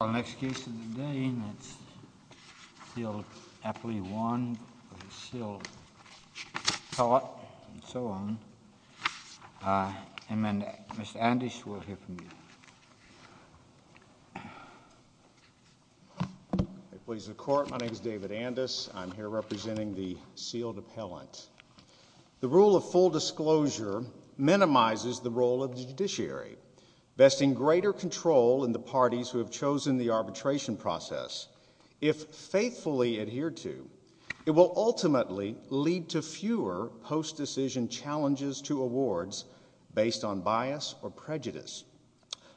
The next case of the day is Sealed Appellee 1, Sealed Appellant and so on. Mr. Andes, we'll hear from you. Ladies and gentlemen, my name is David Andes. I'm here representing the Sealed Appellant. The rule of full disclosure minimizes the role of the judiciary, vesting greater control in the parties who have chosen the arbitration process. If faithfully adhered to, it will ultimately lead to fewer post-decision challenges to awards based on bias or prejudice.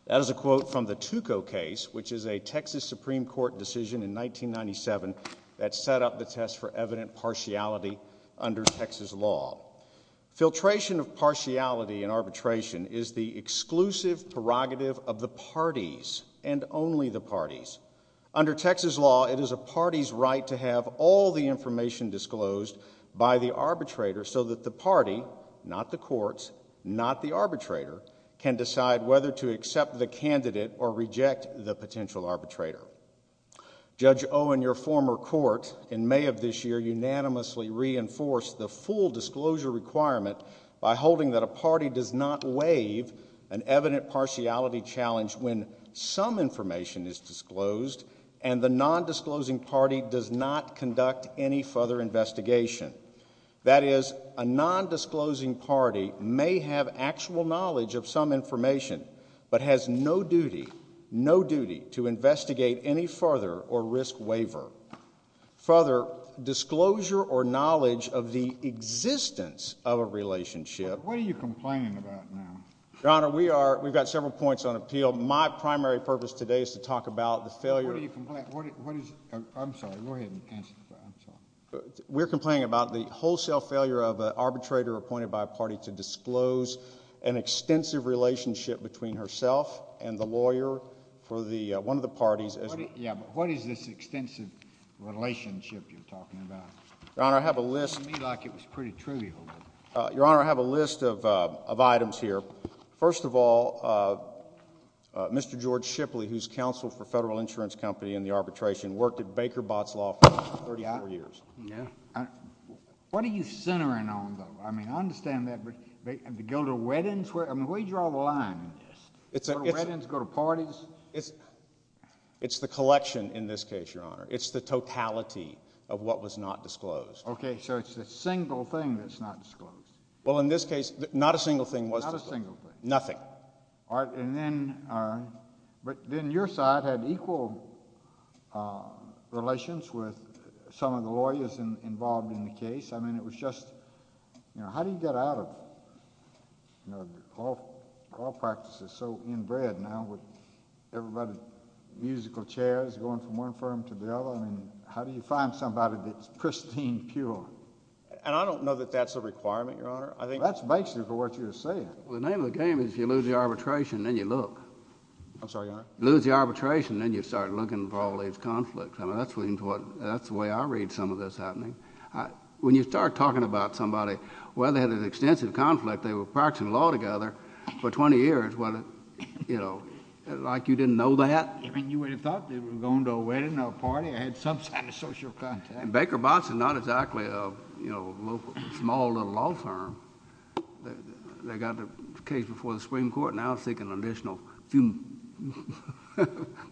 That is a quote from the Tuco case, which is a Texas Supreme Court decision in 1997 that set up the test for evident partiality under Texas law. Filtration of partiality in arbitration is the exclusive prerogative of the parties and only the parties. Under Texas law, it is a party's right to have all the information disclosed by the arbitrator so that the party, not the courts, not the arbitrator, can decide whether to accept the candidate or reject the potential arbitrator. Judge Owen, your former court, in May of this year, unanimously reinforced the full disclosure requirement by holding that a party does not waive an evident partiality challenge when some information is disclosed and the non-disclosing party does not conduct any further investigation. That is, a non-disclosing party may have actual knowledge of some information but has no duty, no duty, to investigate any further or risk waiver. Further, disclosure or knowledge of the existence of a relationship. What are you complaining about now? Your Honor, we are, we've got several points on appeal. My primary purpose today is to talk about the failure. What are you complaining, what is, I'm sorry, go ahead and answer that, I'm sorry. We're complaining about the wholesale failure of an arbitrator appointed by a party to disclose an extensive relationship between herself and the lawyer for the, one of the parties. Yeah, but what is this extensive relationship you're talking about? Your Honor, I have a list. It seemed to me like it was pretty trivial. Your Honor, I have a list of items here. First of all, Mr. George Shipley, who's counsel for Federal Insurance Company in the arbitration, worked at Baker Botts Law for 34 years. Yeah. What are you centering on, though? I mean, I understand that, but go to weddings? I mean, where do you draw the line in this? Go to weddings, go to parties? It's the collection in this case, Your Honor. It's the totality of what was not disclosed. Okay, so it's a single thing that's not disclosed. Well, in this case, not a single thing was disclosed. Not a single thing. Nothing. All right, and then, but then your side had equal relations with some of the lawyers involved in the case. I mean, it was just, you know, how do you get out of law practices so inbred now with everybody, musical chairs going from one firm to the other? I mean, how do you find somebody that's pristine, pure? And I don't know that that's a requirement, Your Honor. That's basically what you're saying. Well, the name of the game is you lose the arbitration, then you look. I'm sorry, Your Honor? Lose the arbitration, then you start looking for all these conflicts. I mean, that's the way I read some of this happening. When you start talking about somebody, well, they had an extensive conflict. They were practicing law together for 20 years. What, you know, like you didn't know that? I mean, you would have thought they were going to a wedding or a party or had some sort of social contact. Baker Botts is not exactly a, you know, small little law firm. They got the case before the Supreme Court, now seeking an additional few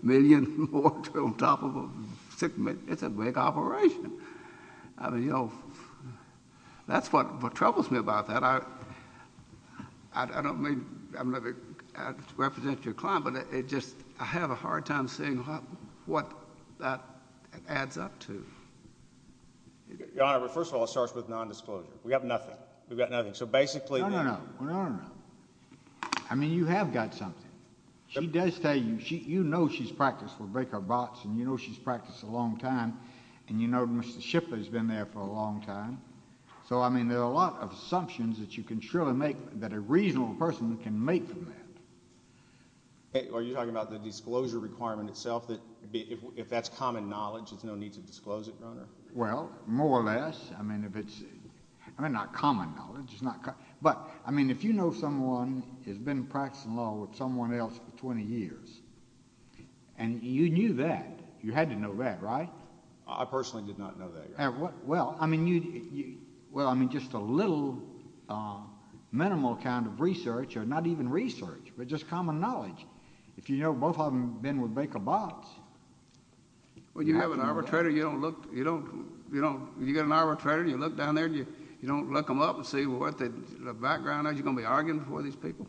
million more on top of six million. It's a big operation. I mean, you know, that's what troubles me about that. I don't mean to represent your client, but I have a hard time seeing what that adds up to. Your Honor, first of all, it starts with nondisclosure. We have nothing. We've got nothing. No, no, no. No, no, no. I mean, you have got something. She does tell you, you know she's practiced with Baker Botts, and you know she's practiced a long time, and you know Mr. Shipley's been there for a long time. So, I mean, there are a lot of assumptions that you can surely make that a reasonable person can make from that. Are you talking about the disclosure requirement itself, that if that's common knowledge, there's no need to disclose it, Your Honor? Well, more or less. I mean, if it's not common knowledge. But, I mean, if you know someone who's been practicing law with someone else for 20 years, and you knew that, you had to know that, right? I personally did not know that, Your Honor. Well, I mean, just a little minimal kind of research, or not even research, but just common knowledge. If you know both of them have been with Baker Botts. Well, you have an arbitrator, you don't look, you don't, you don't, you've got an arbitrator, you look down there, and you don't look them up and see what the background is you're going to be arguing before these people?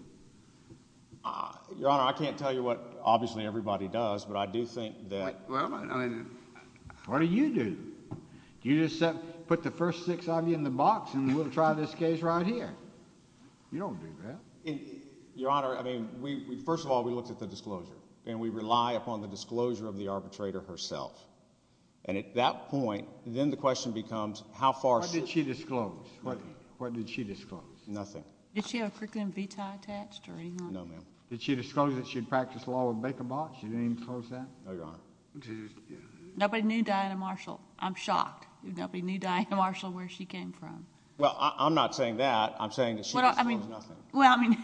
Your Honor, I can't tell you what obviously everybody does, but I do think that. Well, I mean, what do you do? Do you just put the first six of you in the box, and we'll try this case right here? You don't do that. Your Honor, I mean, first of all, we looked at the disclosure. And we rely upon the disclosure of the arbitrator herself. And at that point, then the question becomes how far... What did she disclose? What did she disclose? Nothing. Did she have a curriculum vitae attached or anything? No, ma'am. Did she disclose that she had practiced law with Baker Botts? She didn't even disclose that? No, Your Honor. Nobody knew Diana Marshall. I'm shocked nobody knew Diana Marshall where she came from. Well, I'm not saying that. I'm saying that she disclosed nothing. Well, I mean,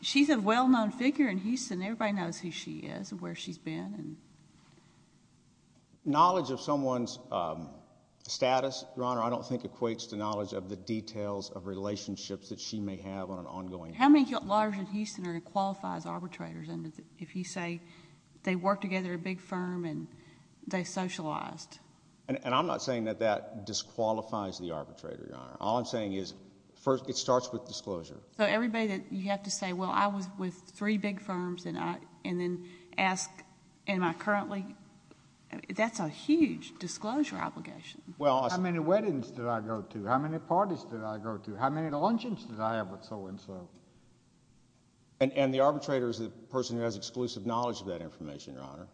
she's a well-known figure in Houston. Everybody knows who she is and where she's been. Knowledge of someone's status, Your Honor, I don't think equates to knowledge of the details of relationships that she may have on an ongoing basis. How many lawyers in Houston are qualified as arbitrators if you say they worked together at a big firm and they socialized? And I'm not saying that that disqualifies the arbitrator, Your Honor. All I'm saying is it starts with disclosure. So everybody that you have to say, well, I was with three big firms and then ask am I currently? That's a huge disclosure obligation. How many weddings did I go to? How many parties did I go to? How many luncheons did I have with so-and-so? And the arbitrator is the person who has exclusive knowledge of that information, Your Honor.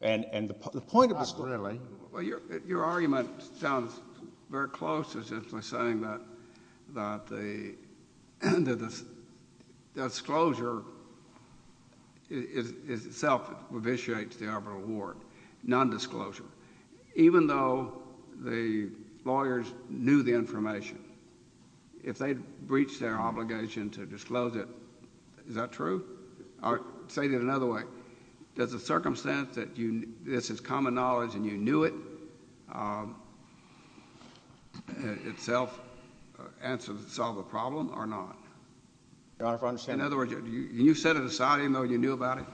Not really. Well, your argument sounds very close to essentially saying that the disclosure itself revitiates the arbitral award, nondisclosure. Even though the lawyers knew the information, if they breached their obligation to disclose it, is that true? I'll say it another way. Does the circumstance that this is common knowledge and you knew it itself solve the problem or not? Your Honor, if I understand. In other words, can you set it aside even though you knew about it?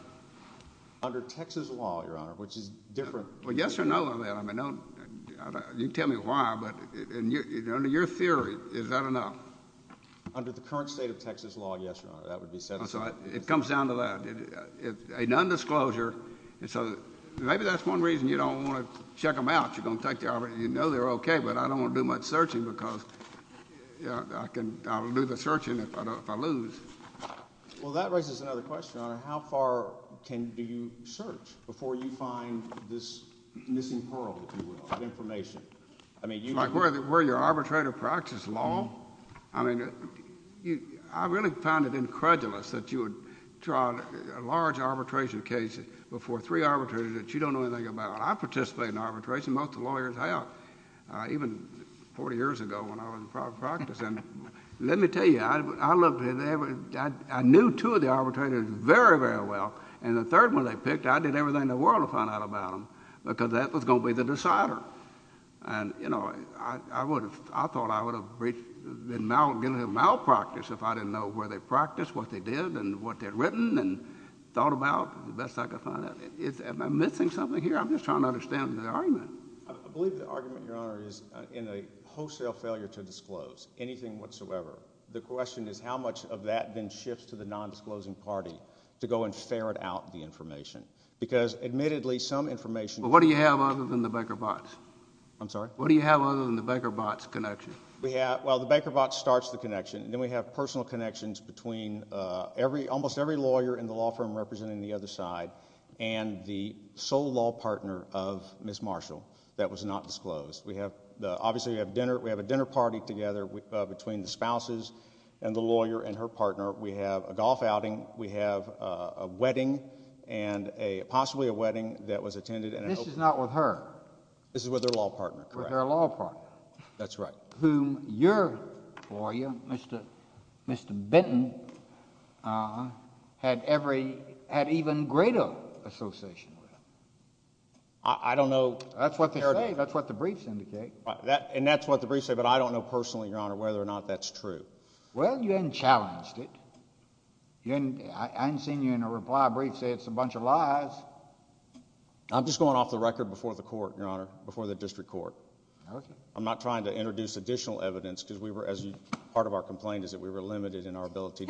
Under Texas law, Your Honor, which is different. Well, yes or no on that. I mean, you can tell me why, but under your theory, is that enough? Under the current state of Texas law, yes, Your Honor. That would be set aside. It comes down to that. A nondisclosure, maybe that's one reason you don't want to check them out. You know they're okay, but I don't want to do much searching because I'll lose the searching if I lose. Well, that raises another question, Your Honor. How far can you search before you find this missing pearl, if you will, of information? Like where your arbitrator practices law? I mean, I really found it incredulous that you would try a large arbitration case before three arbitrators that you don't know anything about. I participated in arbitration. Most of the lawyers have, even 40 years ago when I was in private practice. Let me tell you, I knew two of the arbitrators very, very well, and the third one they picked, I did everything in the world to find out about them because that was going to be the decider. I thought I would have been malpractice if I didn't know where they practiced, what they did, and what they had written and thought about the best I could find out. Am I missing something here? I'm just trying to understand the argument. I believe the argument, Your Honor, is in a wholesale failure to disclose anything whatsoever. The question is how much of that then shifts to the nondisclosing party to go and ferret out the information because admittedly some information— So what do you have other than the Baker-Botts? I'm sorry? What do you have other than the Baker-Botts connection? Well, the Baker-Botts starts the connection, and then we have personal connections between almost every lawyer in the law firm representing the other side and the sole law partner of Ms. Marshall that was not disclosed. Obviously, we have a dinner party together between the spouses and the lawyer and her partner. We have a golf outing. We have a wedding and possibly a wedding that was attended— This is not with her. This is with her law partner, correct. With her law partner. That's right. Whom your lawyer, Mr. Benton, had even greater association with. I don't know— That's what they say. That's what the briefs indicate. And that's what the briefs say, but I don't know personally, Your Honor, whether or not that's true. Well, you haven't challenged it. I haven't seen you in a reply brief say it's a bunch of lies. I'm just going off the record before the court, Your Honor, before the district court. Okay. I'm not trying to introduce additional evidence because we were—as part of our complaint is that we were limited in our ability—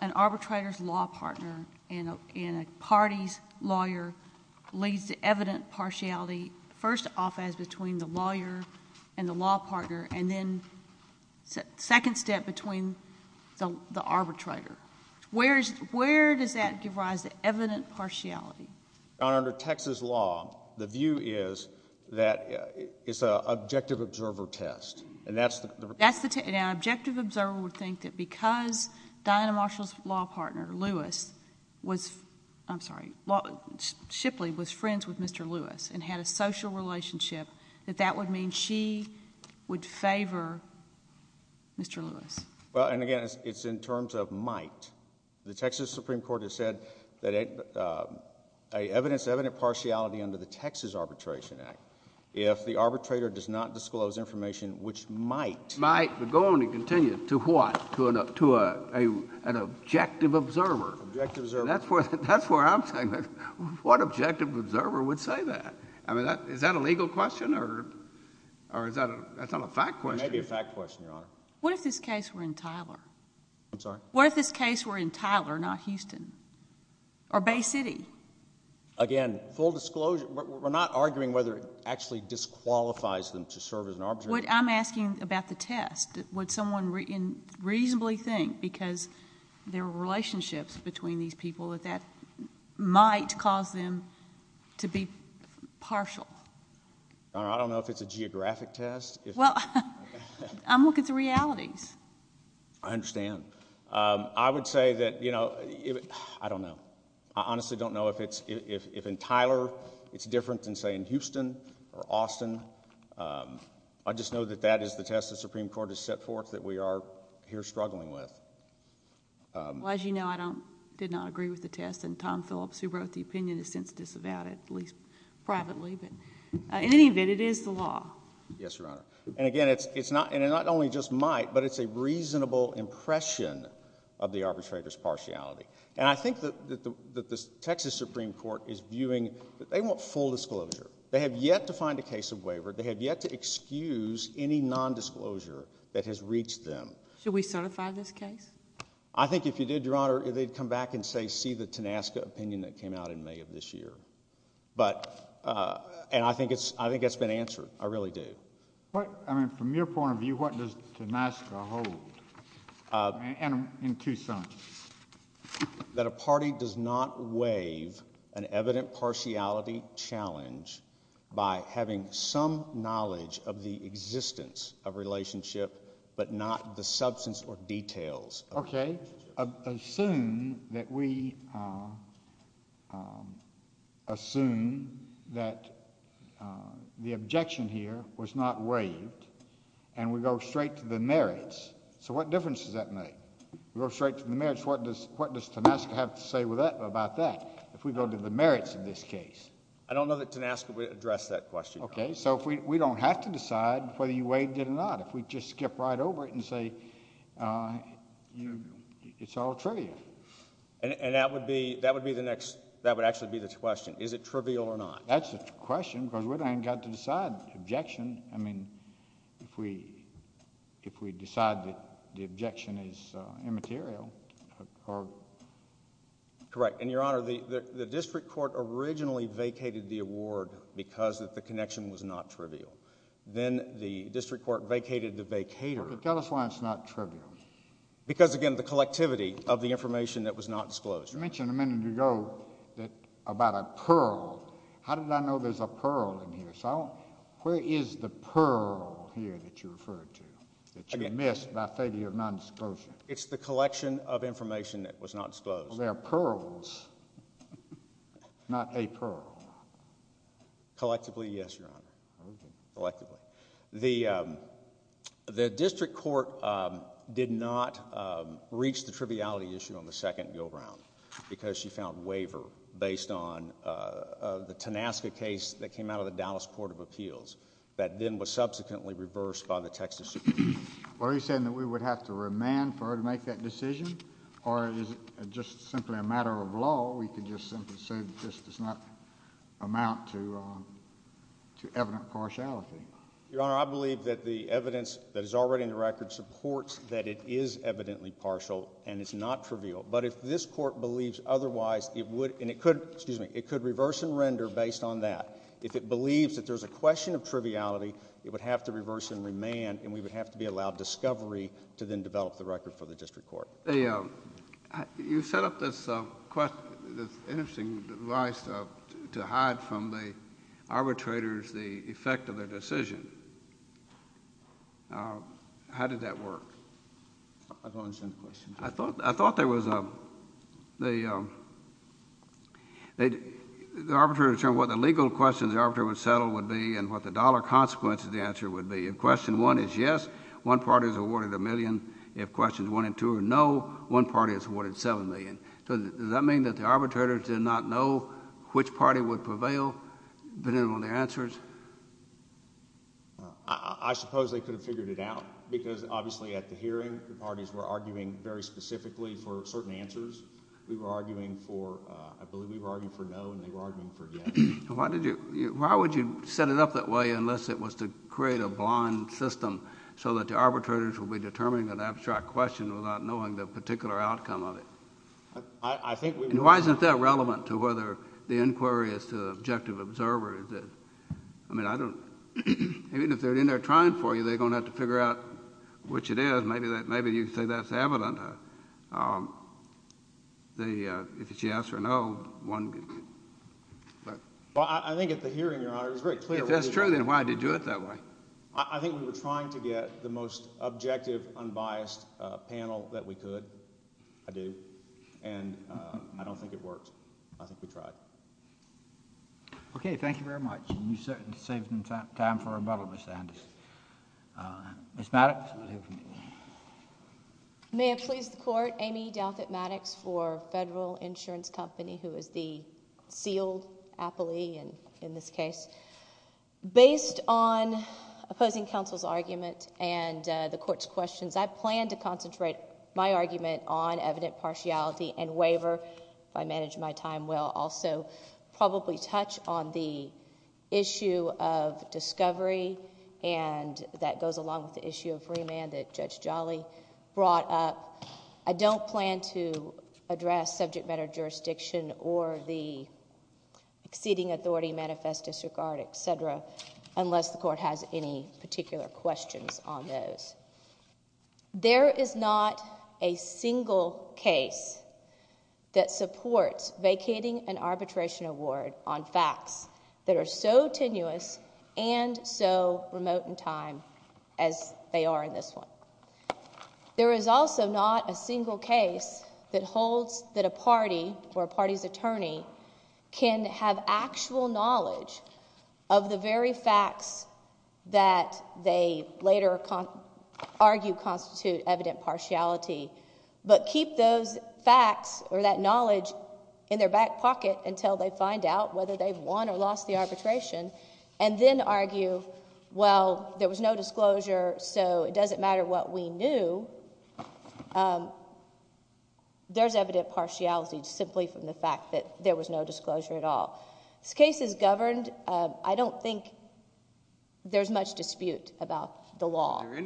and the law partner and then second step between the arbitrator. Where does that give rise to evident partiality? Your Honor, under Texas law, the view is that it's an objective observer test. And that's the— That's the test. An objective observer would think that because Diana Marshall's law partner, Lewis, was—I'm sorry, Shipley, was friends with Mr. Lewis and had a social relationship, that that would mean she would favor Mr. Lewis. Well, and again, it's in terms of might. The Texas Supreme Court has said that evidence of evident partiality under the Texas Arbitration Act, if the arbitrator does not disclose information which might— Might, but go on and continue. To an objective observer. Objective observer. That's where I'm saying, what objective observer would say that? I mean, is that a legal question or is that a fact question? It may be a fact question, Your Honor. What if this case were in Tyler? I'm sorry? What if this case were in Tyler, not Houston? Or Bay City? Again, full disclosure. We're not arguing whether it actually disqualifies them to serve as an arbitrator. What I'm asking about the test, would someone reasonably think, because there are relationships between these people, that that might cause them to be partial? Your Honor, I don't know if it's a geographic test. Well, I'm looking at the realities. I understand. I would say that, you know, I don't know. I honestly don't know if in Tyler it's different than, say, in Houston or Austin. I just know that that is the test the Supreme Court has set forth that we are here struggling with. Well, as you know, I did not agree with the test, and Tom Phillips, who wrote the opinion, is sensitive about it, at least privately. But in any event, it is the law. Yes, Your Honor. And again, it not only just might, but it's a reasonable impression of the arbitrator's partiality. And I think that the Texas Supreme Court is viewing that they want full disclosure. They have yet to find a case of waiver. They have yet to excuse any nondisclosure that has reached them. Should we certify this case? I think if you did, Your Honor, they'd come back and say, see the Tenasca opinion that came out in May of this year. And I think that's been answered. I really do. I mean, from your point of view, what does Tenasca hold? And in Tucson. That a party does not waive an evident partiality challenge by having some knowledge of the existence of relationship, but not the substance or details. Okay. Assume that we assume that the objection here was not waived, and we go straight to the merits. So what difference does that make? We go straight to the merits. What does Tenasca have to say about that if we go to the merits of this case? I don't know that Tenasca would address that question, Your Honor. Okay. So we don't have to decide whether you waived it or not. If we just skip right over it and say it's all trivial. And that would be the next, that would actually be the question. Is it trivial or not? That's the question because we haven't got to decide the objection. I mean, if we decide that the objection is immaterial. Correct. And, Your Honor, the district court originally vacated the award because the connection was not trivial. Then the district court vacated the vacator. Tell us why it's not trivial. Because, again, the collectivity of the information that was not disclosed. You mentioned a minute ago about a pearl. How did I know there's a pearl in here? Where is the pearl here that you referred to that you missed by failure of nondisclosure? It's the collection of information that was not disclosed. There are pearls, not a pearl. Collectively, yes, Your Honor. Collectively. The district court did not reach the triviality issue on the second Gilbrown because she found waiver based on the Tanaska case that came out of the Dallas Court of Appeals that then was subsequently reversed by the Texas Supreme Court. Are you saying that we would have to remand for her to make that decision? Or is it just simply a matter of law? We could just simply say that this does not amount to evident partiality. Your Honor, I believe that the evidence that is already in the record supports that it is evidently partial and it's not trivial. But if this court believes otherwise, and it could reverse and render based on that, if it believes that there's a question of triviality, it would have to reverse and remand and we would have to be allowed discovery to then develop the record for the district court. You set up this interesting device to hide from the arbitrators the effect of their decision. How did that work? I don't understand the question. I thought there was a... The arbitrator determined what the legal questions the arbitrator would settle would be and what the dollar consequences of the answer would be. If question one is yes, one party is awarded a million. If questions one and two are no, one party is awarded seven million. Does that mean that the arbitrators did not know which party would prevail depending on the answers? I suppose they could have figured it out because obviously at the hearing the parties were arguing very specifically for certain answers. We were arguing for, I believe we were arguing for no and they were arguing for yes. Why would you set it up that way unless it was to create a blind system so that the arbitrators would be determining an abstract question without knowing the particular outcome of it? I think we... And why isn't that relevant to whether the inquiry is to the objective observer? I mean, I don't... Even if they're in there trying for you, they're going to have to figure out which it is. Maybe you could say that's evident. If it's yes or no, one... Well, I think at the hearing, Your Honor, it was very clear... If that's true, then why did you do it that way? I think we were trying to get the most objective, unbiased panel that we could. I do. And I don't think it worked. I think we tried. Okay. Thank you very much. You saved some time for rebuttal, Ms. Anders. Ms. Maddox. May it please the Court, Amy Douthat Maddox for Federal Insurance Company, who is the sealed appellee in this case. Based on opposing counsel's argument and the Court's questions, I plan to concentrate my argument on evident partiality and waiver. If I manage my time well, also probably touch on the issue of discovery and that goes along with the issue of remand that Judge Jolly brought up. I don't plan to address subject matter jurisdiction or the exceeding authority manifest disregard, et cetera, unless the Court has any particular questions on those. There is not a single case that supports vacating an arbitration award on facts that are so tenuous and so remote in time as they are in this one. There is also not a single case that holds that a party or a party's attorney can have actual knowledge of the very facts that they later argue constitute evident partiality but keep those facts or that knowledge in their back pocket until they find out whether they've won or lost the arbitration and then argue, well, there was no disclosure, so it doesn't matter what we knew. There's evident partiality simply from the fact that there was no disclosure at all. This case is governed. I don't think there's much dispute about the law. Is there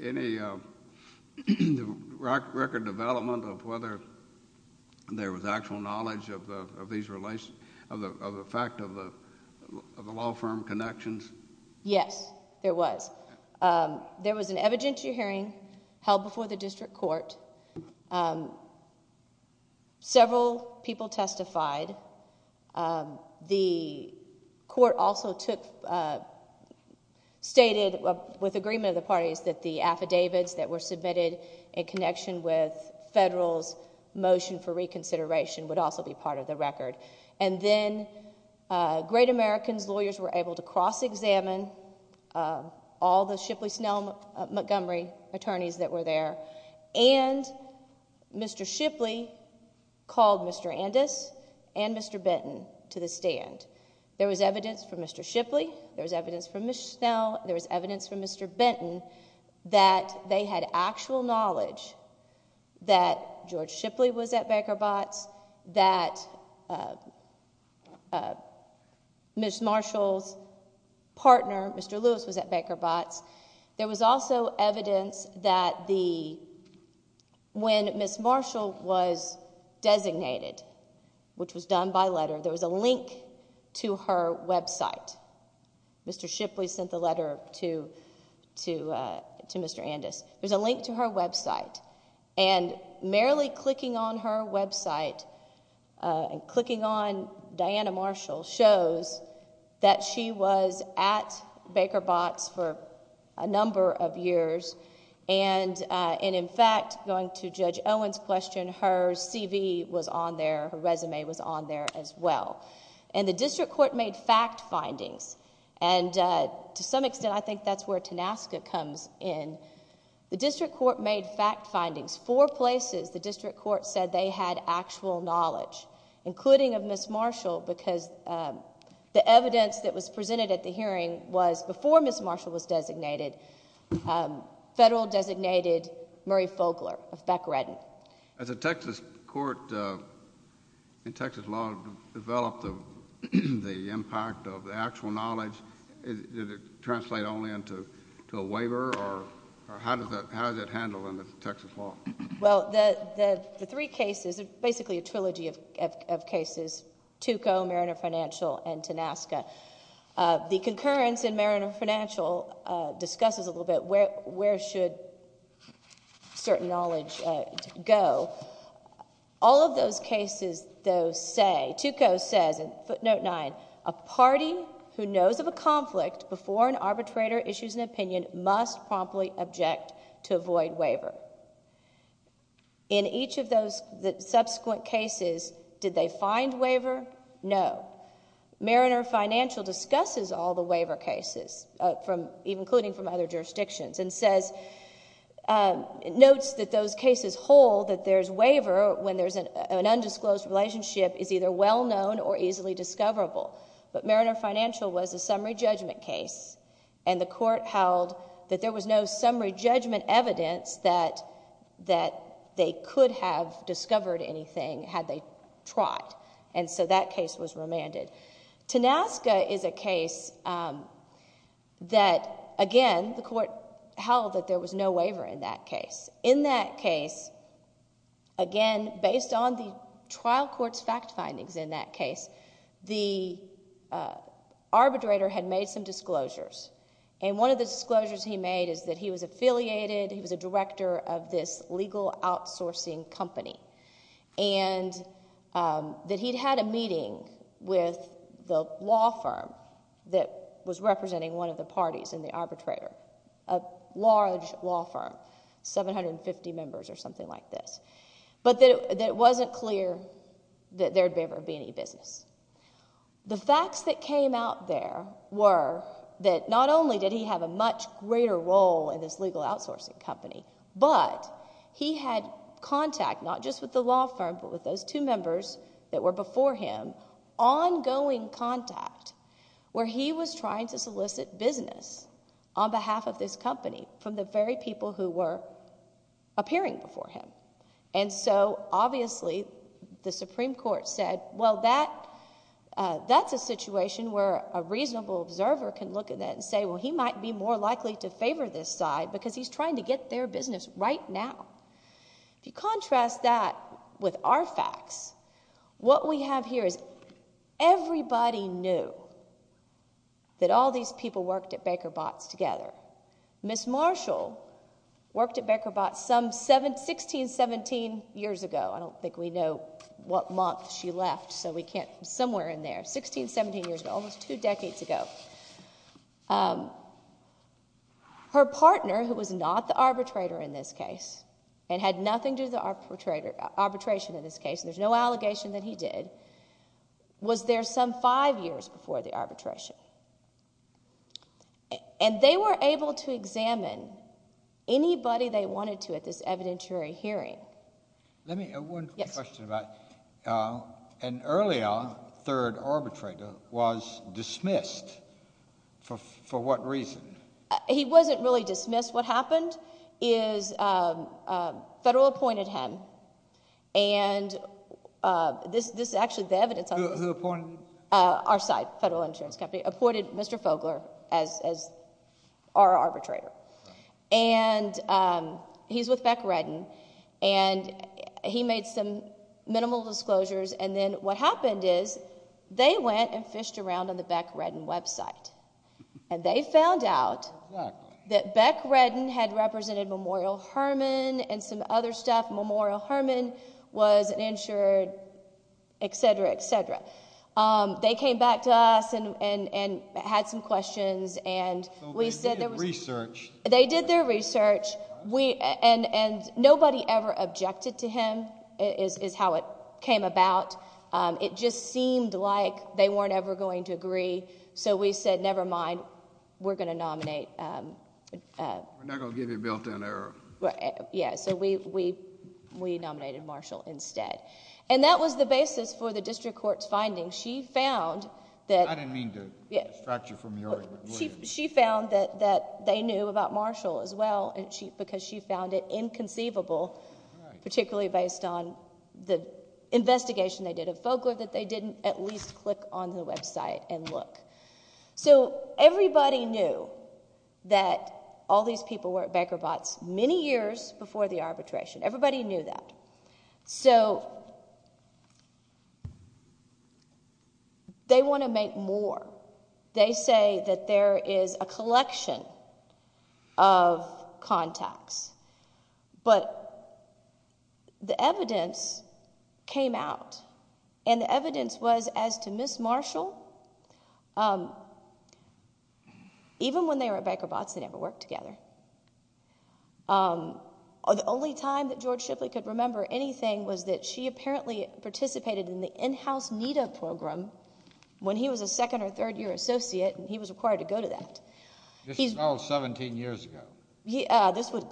any record development of whether there was actual knowledge of the fact of the law firm connections? Yes, there was. There was an evidentiary hearing held before the district court. Several people testified. The court also stated with agreement of the parties that the affidavits that were submitted in connection with federal's motion for reconsideration would also be part of the record. And then Great American's lawyers were able to cross-examine all the Shipley, Snell, Montgomery attorneys that were there, and Mr. Shipley called Mr. Andis and Mr. Benton to the stand. There was evidence from Mr. Shipley. There was evidence from Ms. Snell. There was evidence from Mr. Benton that they had actual knowledge that George Shipley was at Baker Botts, that Ms. Marshall's partner, Mr. Lewis, was at Baker Botts. There was also evidence that when Ms. Marshall was designated, which was done by letter, there was a link to her website. Mr. Shipley sent the letter to Mr. Andis. There's a link to her website. And merely clicking on her website and clicking on Diana Marshall shows that she was at Baker Botts for a number of years. And, in fact, going to Judge Owen's question, her CV was on there, her resume was on there as well. And the district court made fact findings. And, to some extent, I think that's where TANASCA comes in. The district court made fact findings. Four places the district court said they had actual knowledge, including of Ms. Marshall, because the evidence that was presented at the hearing was, before Ms. Marshall was designated, federal designated Murray Fogler of Beck-Redden. Has the Texas court, in Texas law, developed the impact of the actual knowledge? Did it translate only into a waiver? Or how does that handle in the Texas law? Well, the three cases are basically a trilogy of cases, Tuco, Mariner Financial, and TANASCA. The concurrence in Mariner Financial discusses a little bit where should certain knowledge go. All of those cases, though, say, Tuco says in footnote 9, a party who knows of a conflict before an arbitrator issues an opinion must promptly object to avoid waiver. In each of those subsequent cases, did they find waiver? No. Mariner Financial discusses all the waiver cases, including from other jurisdictions, and notes that those cases hold that there's waiver when there's an undisclosed relationship is either well-known or easily discoverable. But Mariner Financial was a summary judgment case, and the court held that there was no summary judgment evidence that they could have discovered anything had they trot, and so that case was remanded. TANASCA is a case that, again, the court held that there was no waiver in that case. In that case, again, based on the trial court's fact findings in that case, the arbitrator had made some disclosures, and one of the disclosures he made is that he was affiliated, he was a director of this legal outsourcing company, and that he'd had a meeting with the law firm that was representing one of the parties in the arbitrator, a large law firm, 750 members or something like this, but that it wasn't clear that there would ever be any business. The facts that came out there were that not only did he have a much greater role in this legal outsourcing company, but he had contact not just with the law firm but with those two members that were before him, ongoing contact, where he was trying to solicit business on behalf of this company from the very people who were appearing before him. And so, obviously, the Supreme Court said, well, that's a situation where a reasonable observer can look at that and say, well, he might be more likely to favor this side because he's trying to get their business right now. If you contrast that with our facts, what we have here is everybody knew that all these people worked at Baker Botts together. Miss Marshall worked at Baker Botts some 16, 17 years ago. I don't think we know what month she left, so we can't... somewhere in there. 16, 17 years ago, almost two decades ago. Her partner, who was not the arbitrator in this case and had nothing to do with the arbitration in this case, there's no allegation that he did, was there some five years before the arbitration. And they were able to examine anybody they wanted to at this evidentiary hearing. Let me... one question about... Yes. Now, an earlier third arbitrator was dismissed. For what reason? He wasn't really dismissed. What happened is Federal appointed him, and this is actually the evidence... Who appointed him? Our side, Federal Insurance Company, appointed Mr Fogler as our arbitrator. And he's with Beck Redden, and he made some minimal disclosures, and then what happened is they went and fished around on the Beck Redden website, and they found out that Beck Redden had represented Memorial Hermann and some other stuff. Memorial Hermann was an insured, et cetera, et cetera. They came back to us and had some questions, and we said there was... They did their research. And nobody ever objected to him, is how it came about. It just seemed like they weren't ever going to agree, so we said, never mind, we're going to nominate... We're not going to give you a built-in error. Yeah, so we nominated Marshall instead. And that was the basis for the district court's findings. She found that... I didn't mean to distract you from your argument. She found that they knew about Marshall as well, because she found it inconceivable, particularly based on the investigation they did of Fogler, that they didn't at least click on the website and look. So everybody knew that all these people were at Becker Botts many years before the arbitration. Everybody knew that. So... They want to make more. They say that there is a collection of contacts. But the evidence came out, and the evidence was as to Miss Marshall... Even when they were at Becker Botts, they never worked together. The only time that George Shifley could remember anything was that she apparently participated in the in-house NIDA program when he was a second- or third-year associate, and he was required to go to that. This was all 17 years ago.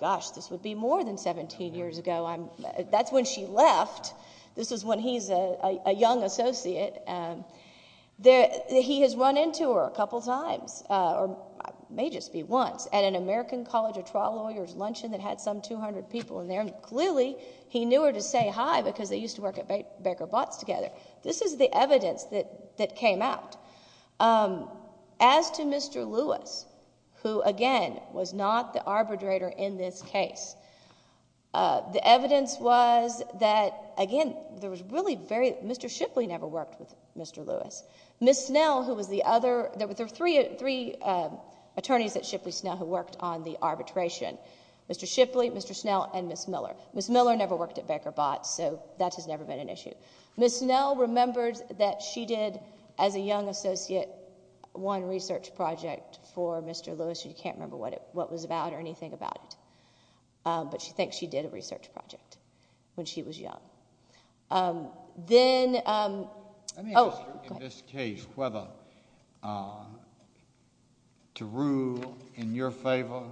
Gosh, this would be more than 17 years ago. That's when she left. This is when he's a young associate. He has run into her a couple of times, or may just be once, at an American College of Trial Lawyers luncheon that had some 200 people in there, and clearly he knew her to say hi because they used to work at Becker Botts together. This is the evidence that came out. As to Mr. Lewis, who, again, was not the arbitrator in this case, the evidence was that, again, there was really very... Mr. Shifley never worked with Mr. Lewis. Ms. Snell, who was the other... There were three attorneys at Shifley Snell who worked on the arbitration, Mr. Shifley, Mr. Snell, and Ms. Miller. Ms. Miller never worked at Becker Botts, so that has never been an issue. Ms. Snell remembers that she did, as a young associate, one research project for Mr. Lewis. She can't remember what it was about or anything about it, but she thinks she did a research project when she was young. Then... Oh, go ahead. In this case, whether to rule in your favor,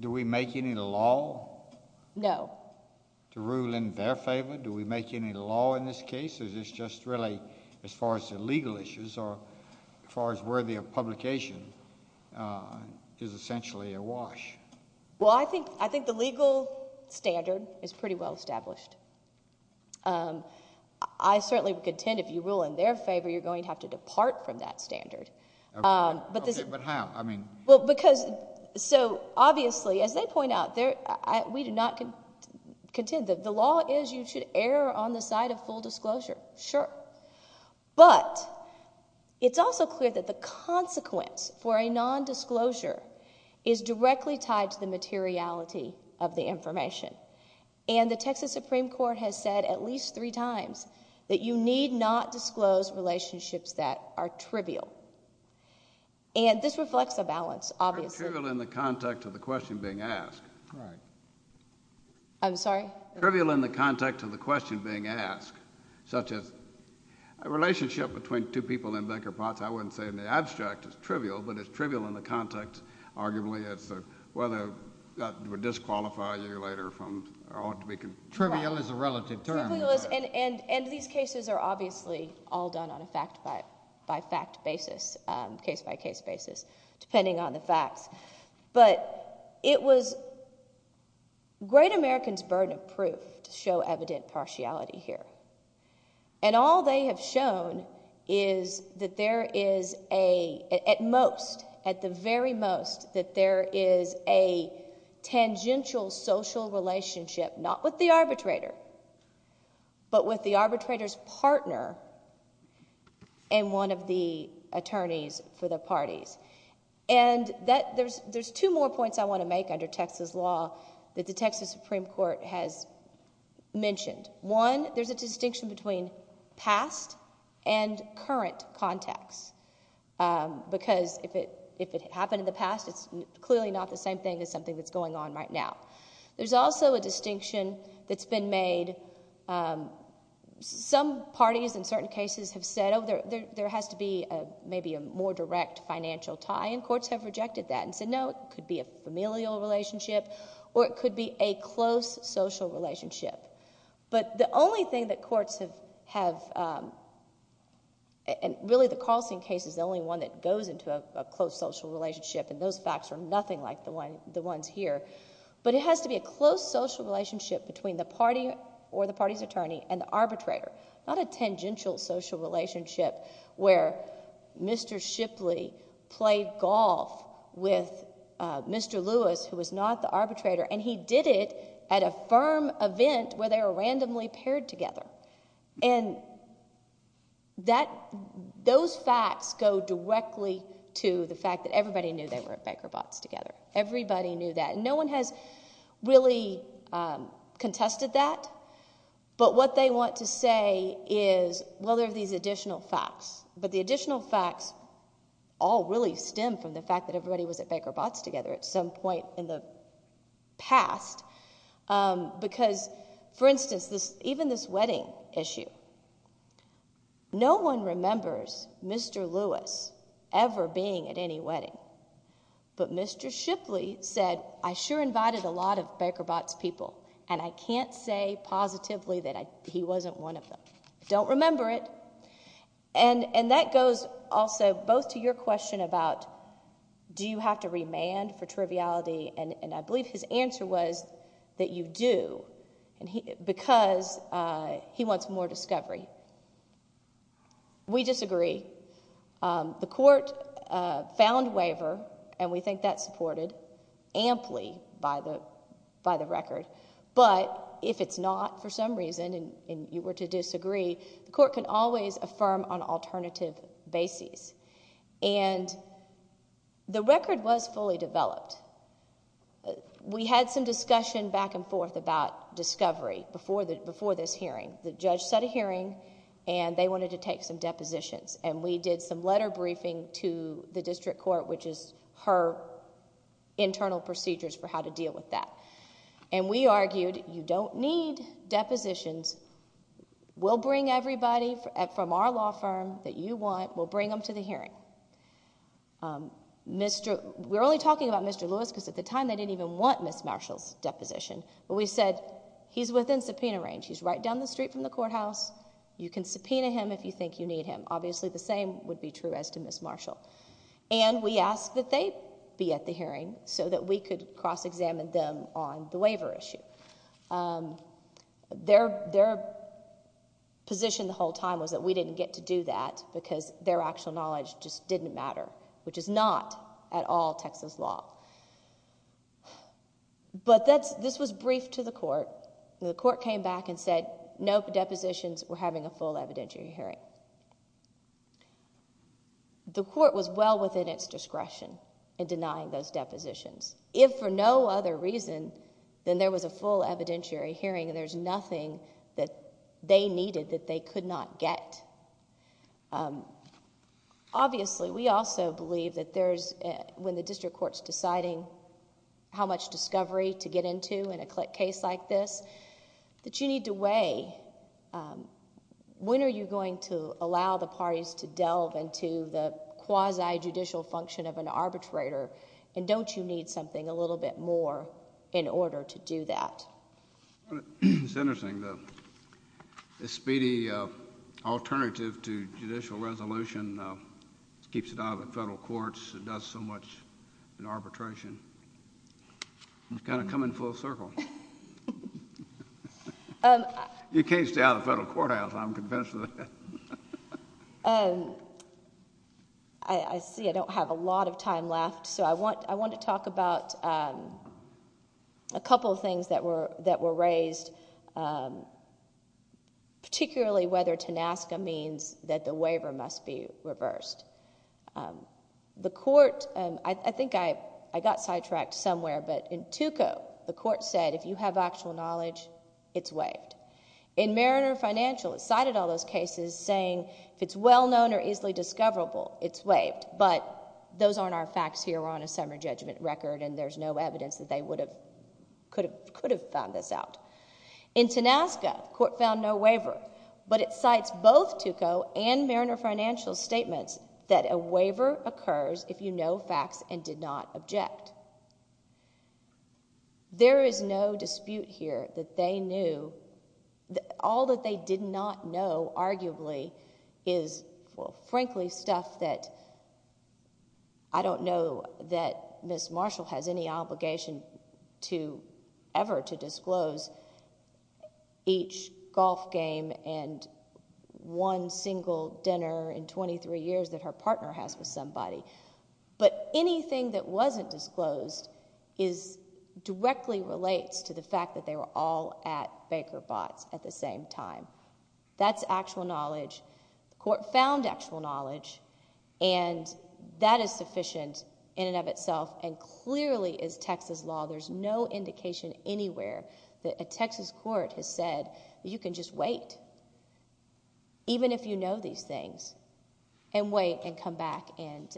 do we make any law? No. To rule in their favor, do we make any law in this case, or is this just really as far as the legal issues or as far as worthy of publication is essentially a wash? Well, I think the legal standard is pretty well established. I certainly contend if you rule in their favor, you're going to have to depart from that standard. OK, but how? I mean... Well, because... But obviously, as they point out, we do not contend. The law is you should err on the side of full disclosure. Sure. But it's also clear that the consequence for a nondisclosure is directly tied to the materiality of the information. And the Texas Supreme Court has said at least three times that you need not disclose relationships that are trivial. And this reflects a balance, obviously. It's trivial in the context of the question being asked. Right. I'm sorry? Trivial in the context of the question being asked, such as a relationship between two people in Becker-Potts. I wouldn't say in the abstract it's trivial, but it's trivial in the context, arguably, as to whether that would disqualify you later from... Trivial is a relative term. And these cases are obviously all done on a fact-by-fact basis, case-by-case basis, depending on the facts. But it was great Americans' burden of proof to show evident partiality here. And all they have shown is that there is a... At most, at the very most, that there is a tangential social relationship, not with the arbitrator, but with the arbitrator's partner and one of the attorneys for the parties. And there's two more points I want to make under Texas law that the Texas Supreme Court has mentioned. One, there's a distinction between past and current context, because if it happened in the past, it's clearly not the same thing as something that's going on right now. There's also a distinction that's been made... Some parties in certain cases have said, oh, there has to be maybe a more direct financial tie, and courts have rejected that and said, no, it could be a familial relationship, or it could be a close social relationship. But the only thing that courts have... And really, the Carlson case is the only one that goes into a close social relationship, and those facts are nothing like the ones here. But it has to be a close social relationship between the party or the party's attorney and the arbitrator, not a tangential social relationship where Mr Shipley played golf with Mr Lewis, who was not the arbitrator, and he did it at a firm event where they were randomly paired together. And that... Those facts go directly to the fact that everybody knew they were at Becker Botts together. Everybody knew that. No one has really contested that. But what they want to say is, well, there are these additional facts, but the additional facts all really stem from the fact that everybody was at Becker Botts together at some point in the past. Because, for instance, even this wedding issue, no one remembers Mr Lewis ever being at any wedding. But Mr Shipley said, I sure invited a lot of Becker Botts people, and I can't say positively that he wasn't one of them. Don't remember it. And that goes also both to your question about do you have to remand for triviality, and I believe his answer was that you do, because he wants more discovery. We disagree. The court found waiver, and we think that's supported, amply by the record. But if it's not for some reason and you were to disagree, the court can always affirm on alternative bases. And the record was fully developed. We had some discussion back and forth about discovery before this hearing. The judge set a hearing, and they wanted to take some depositions, and we did some letter briefing to the district court, which is her internal procedures for how to deal with that. And we argued, you don't need depositions. We'll bring everybody from our law firm that you want. We'll bring them to the hearing. We're only talking about Mr Lewis, because at the time they didn't even want Ms Marshall's deposition. But we said, he's within subpoena range. He's right down the street from the courthouse. You can subpoena him if you think you need him. Obviously the same would be true as to Ms Marshall. And we asked that they be at the hearing so that we could cross-examine them on the waiver issue. Their position the whole time was that we didn't get to do that, because their actual knowledge just didn't matter, which is not at all Texas law. But this was briefed to the court. The court came back and said no depositions. We're having a full evidentiary hearing. The court was well within its discretion in denying those depositions. If for no other reason than there was a full evidentiary hearing and there's nothing that they needed that they could not get. It's interesting. The speedy alternative to judicial resolution keeps it out of the federal courts. It keeps it out of the courts. It's got to come in full circle. You can't stay out of the federal courthouse, I'm convinced of that. I see I don't have a lot of time left, so I want to talk about a couple of things that were raised, particularly whether TANASCA means that the waiver must be reversed. I think I got sidetracked somewhere, but in Tuco, the court said if you have actual knowledge, it's waived. In Mariner Financial, it cited all those cases saying if it's well known or easily discoverable, it's waived, but those aren't our facts here. We're on a summary judgment record, and there's no evidence that they could have found this out. In TANASCA, the court found no waiver, but it cites both Tuco and Mariner Financial's statements that a waiver occurs if you know facts and did not object. There is no dispute here that they knew. All that they did not know, arguably, is, well, frankly, stuff that I don't know that Ms. Marshall has any obligation ever to disclose. Each golf game and one single dinner in 23 years that her partner has with somebody. But anything that wasn't disclosed directly relates to the fact that they were all at Baker Botts at the same time. That's actual knowledge. The court found actual knowledge, and that is sufficient in and of itself, and clearly is Texas law. There's no indication anywhere that a Texas court has said that you can just wait, even if you know these things, and wait and come back and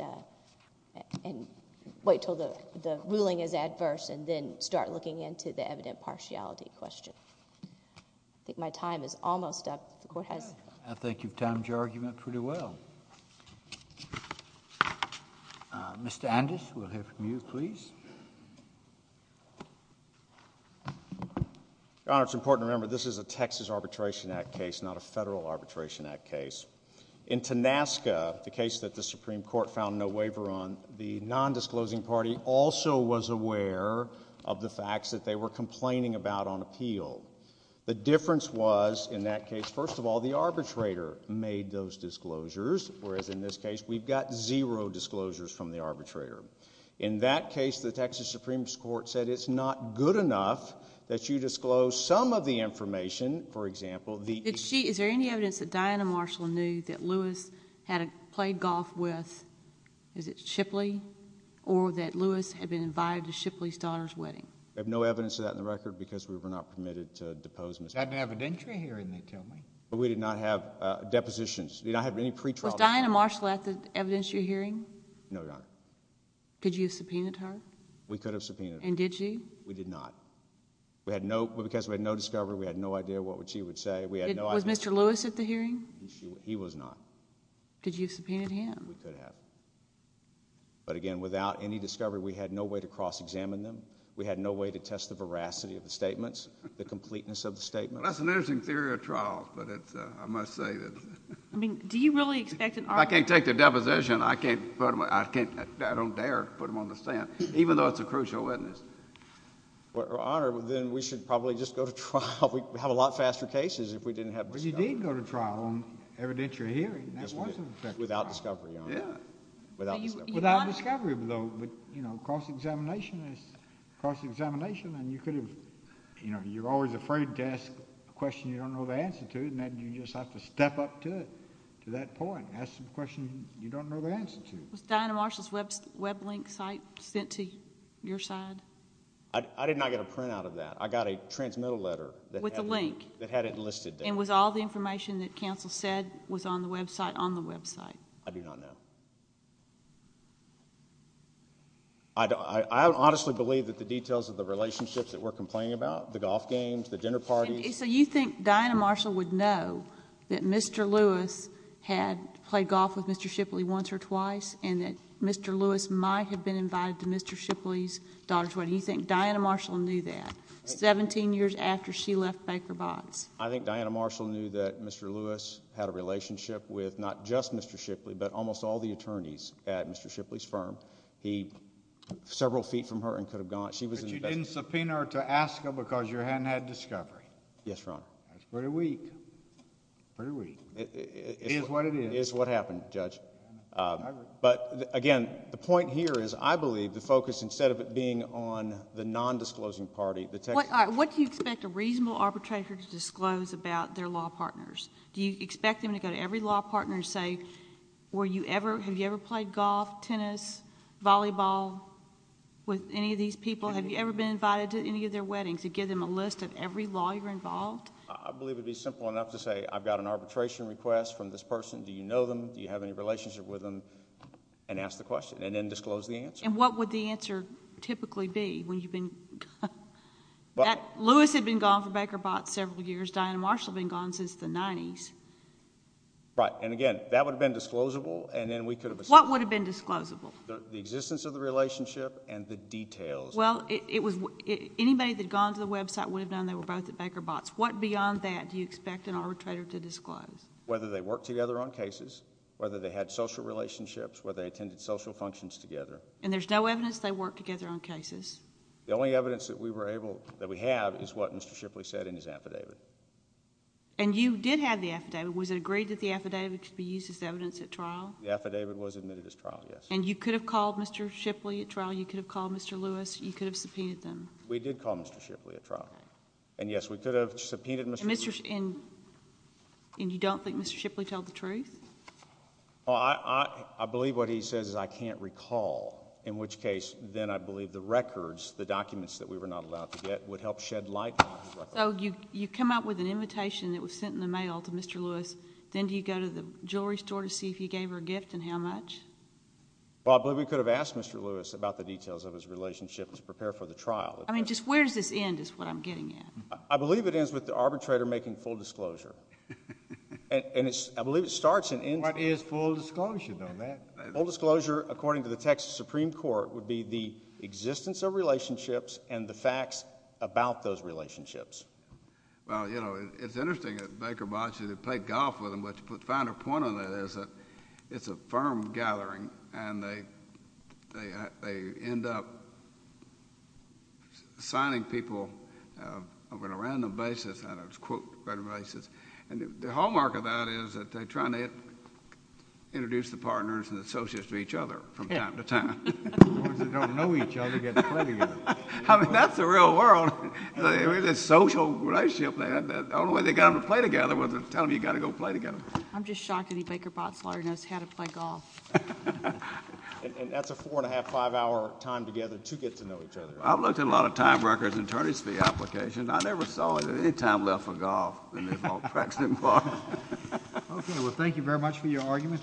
wait until the ruling is adverse and then start looking into the evident partiality question. I think my time is almost up. The court has... I think you've timed your argument pretty well. Mr. Andes, we'll hear from you, please. Your Honor, it's important to remember this is a Texas Arbitration Act case, not a federal Arbitration Act case. In Tanaska, the case that the Supreme Court found no waiver on, the nondisclosing party also was aware of the facts that they were complaining about on appeal. The difference was, in that case, first of all, the arbitrator made those disclosures, whereas in this case we've got zero disclosures from the arbitrator. In that case, the Texas Supreme Court said it's not good enough that you disclose some of the information, for example... Is there any evidence that Diana Marshall knew that Lewis had played golf with, is it Shipley, or that Lewis had been invited to Shipley's daughter's wedding? We have no evidence of that on the record because we were not permitted to depose Ms. Marshall. That's an evidentiary hearing, they tell me. We did not have depositions. We did not have any pretrial... Was Diana Marshall at the evidentiary hearing? No, Your Honor. Could you have subpoenaed her? We could have subpoenaed her. And did you? We did not. Because we had no discovery, we had no idea what she would say. Was Mr. Lewis at the hearing? He was not. Could you have subpoenaed him? We could have. But again, without any discovery, we had no way to cross-examine them. We had no way to test the veracity of the statements, the completeness of the statements. Well, that's an interesting theory of trials, but I must say that... I mean, do you really expect an... If I can't take their deposition, I don't dare put them on the stand, Well, Your Honor, then we should probably just go to trial. We'd have a lot faster cases if we didn't have discovery. Well, you did go to trial on evidentiary hearing. That was an effective trial. Without discovery, Your Honor. Without discovery. Without discovery, Your Honor. But, you know, cross-examination is cross-examination, and you could have... You know, you're always afraid to ask a question you don't know the answer to, and you just have to step up to it, to that point, ask a question you don't know the answer to. Was Diana Marshall's web link site sent to your side? I did not get a printout of that. I got a transmittal letter that had it listed there. With a link. And was all the information that counsel said was on the website on the website? I do not know. I honestly believe that the details of the relationships that we're complaining about, the golf games, the dinner parties... So you think Diana Marshall would know that Mr. Lewis had played golf with Mr. Shipley once or twice and that Mr. Lewis might have been invited to Mr. Shipley's daughter's wedding. You think Diana Marshall knew that 17 years after she left Baker Botts? I think Diana Marshall knew that Mr. Lewis had a relationship with not just Mr. Shipley but almost all the attorneys at Mr. Shipley's firm. He was several feet from her and could have gone... But you didn't subpoena her to ASCA because you hadn't had discovery. Yes, Your Honor. That's pretty weak. It is what it is. It is what happened, Judge. But, again, the point here is I believe the focus, instead of it being on the nondisclosing party... What do you expect a reasonable arbitrator to disclose about their law partners? Do you expect them to go to every law partner and say, have you ever played golf, tennis, volleyball with any of these people? Have you ever been invited to any of their weddings and give them a list of every lawyer involved? I believe it would be simple enough to say, I've got an arbitration request from this person. Do you know them? Do you have any relationship with them? And ask the question and then disclose the answer. And what would the answer typically be when you've been... Lewis had been gone for Baker Botts several years. Diane Marshall had been gone since the 90s. Right, and, again, that would have been disclosable. What would have been disclosable? The existence of the relationship and the details. Well, anybody that had gone to the website would have known What beyond that do you expect an arbitrator to disclose? Whether they worked together on cases, whether they had social relationships, whether they attended social functions together. And there's no evidence they worked together on cases? The only evidence that we have is what Mr. Shipley said in his affidavit. And you did have the affidavit. Was it agreed that the affidavit could be used as evidence at trial? The affidavit was admitted as trial, yes. And you could have called Mr. Shipley at trial, you could have called Mr. Lewis, you could have subpoenaed them? We did call Mr. Shipley at trial. And, yes, we could have subpoenaed Mr. Lewis. And you don't think Mr. Shipley told the truth? Well, I believe what he says is I can't recall, in which case then I believe the records, the documents that we were not allowed to get, would help shed light on the records. So you come up with an invitation that was sent in the mail to Mr. Lewis, then do you go to the jewelry store to see if he gave her a gift and how much? Well, I believe we could have asked Mr. Lewis about the details of his relationship to prepare for the trial. I mean, just where does this end is what I'm getting at. I believe it ends with the arbitrator making full disclosure. And I believe it starts and ends. What is full disclosure, though, Matt? Full disclosure, according to the Texas Supreme Court, would be the existence of relationships and the facts about those relationships. Well, you know, it's interesting that Baker bought you to play golf with him, but to put a finer point on that is that it's a firm gathering and they end up signing people on a random basis, and I'll just quote random basis, and the hallmark of that is that they're trying to introduce the partners and associates to each other from time to time. As long as they don't know each other, they get to play together. I mean, that's the real world. It's a social relationship. The only way they got them to play together was to tell them you got to go play together. I'm just shocked any Baker-Botz lawyer knows how to play golf. And that's a four-and-a-half, five-hour time together to get to know each other. I've looked at a lot of time records and attorney's fee applications. I never saw any time left for golf in this whole precedent bar. Okay. Well, thank you very much for your argument.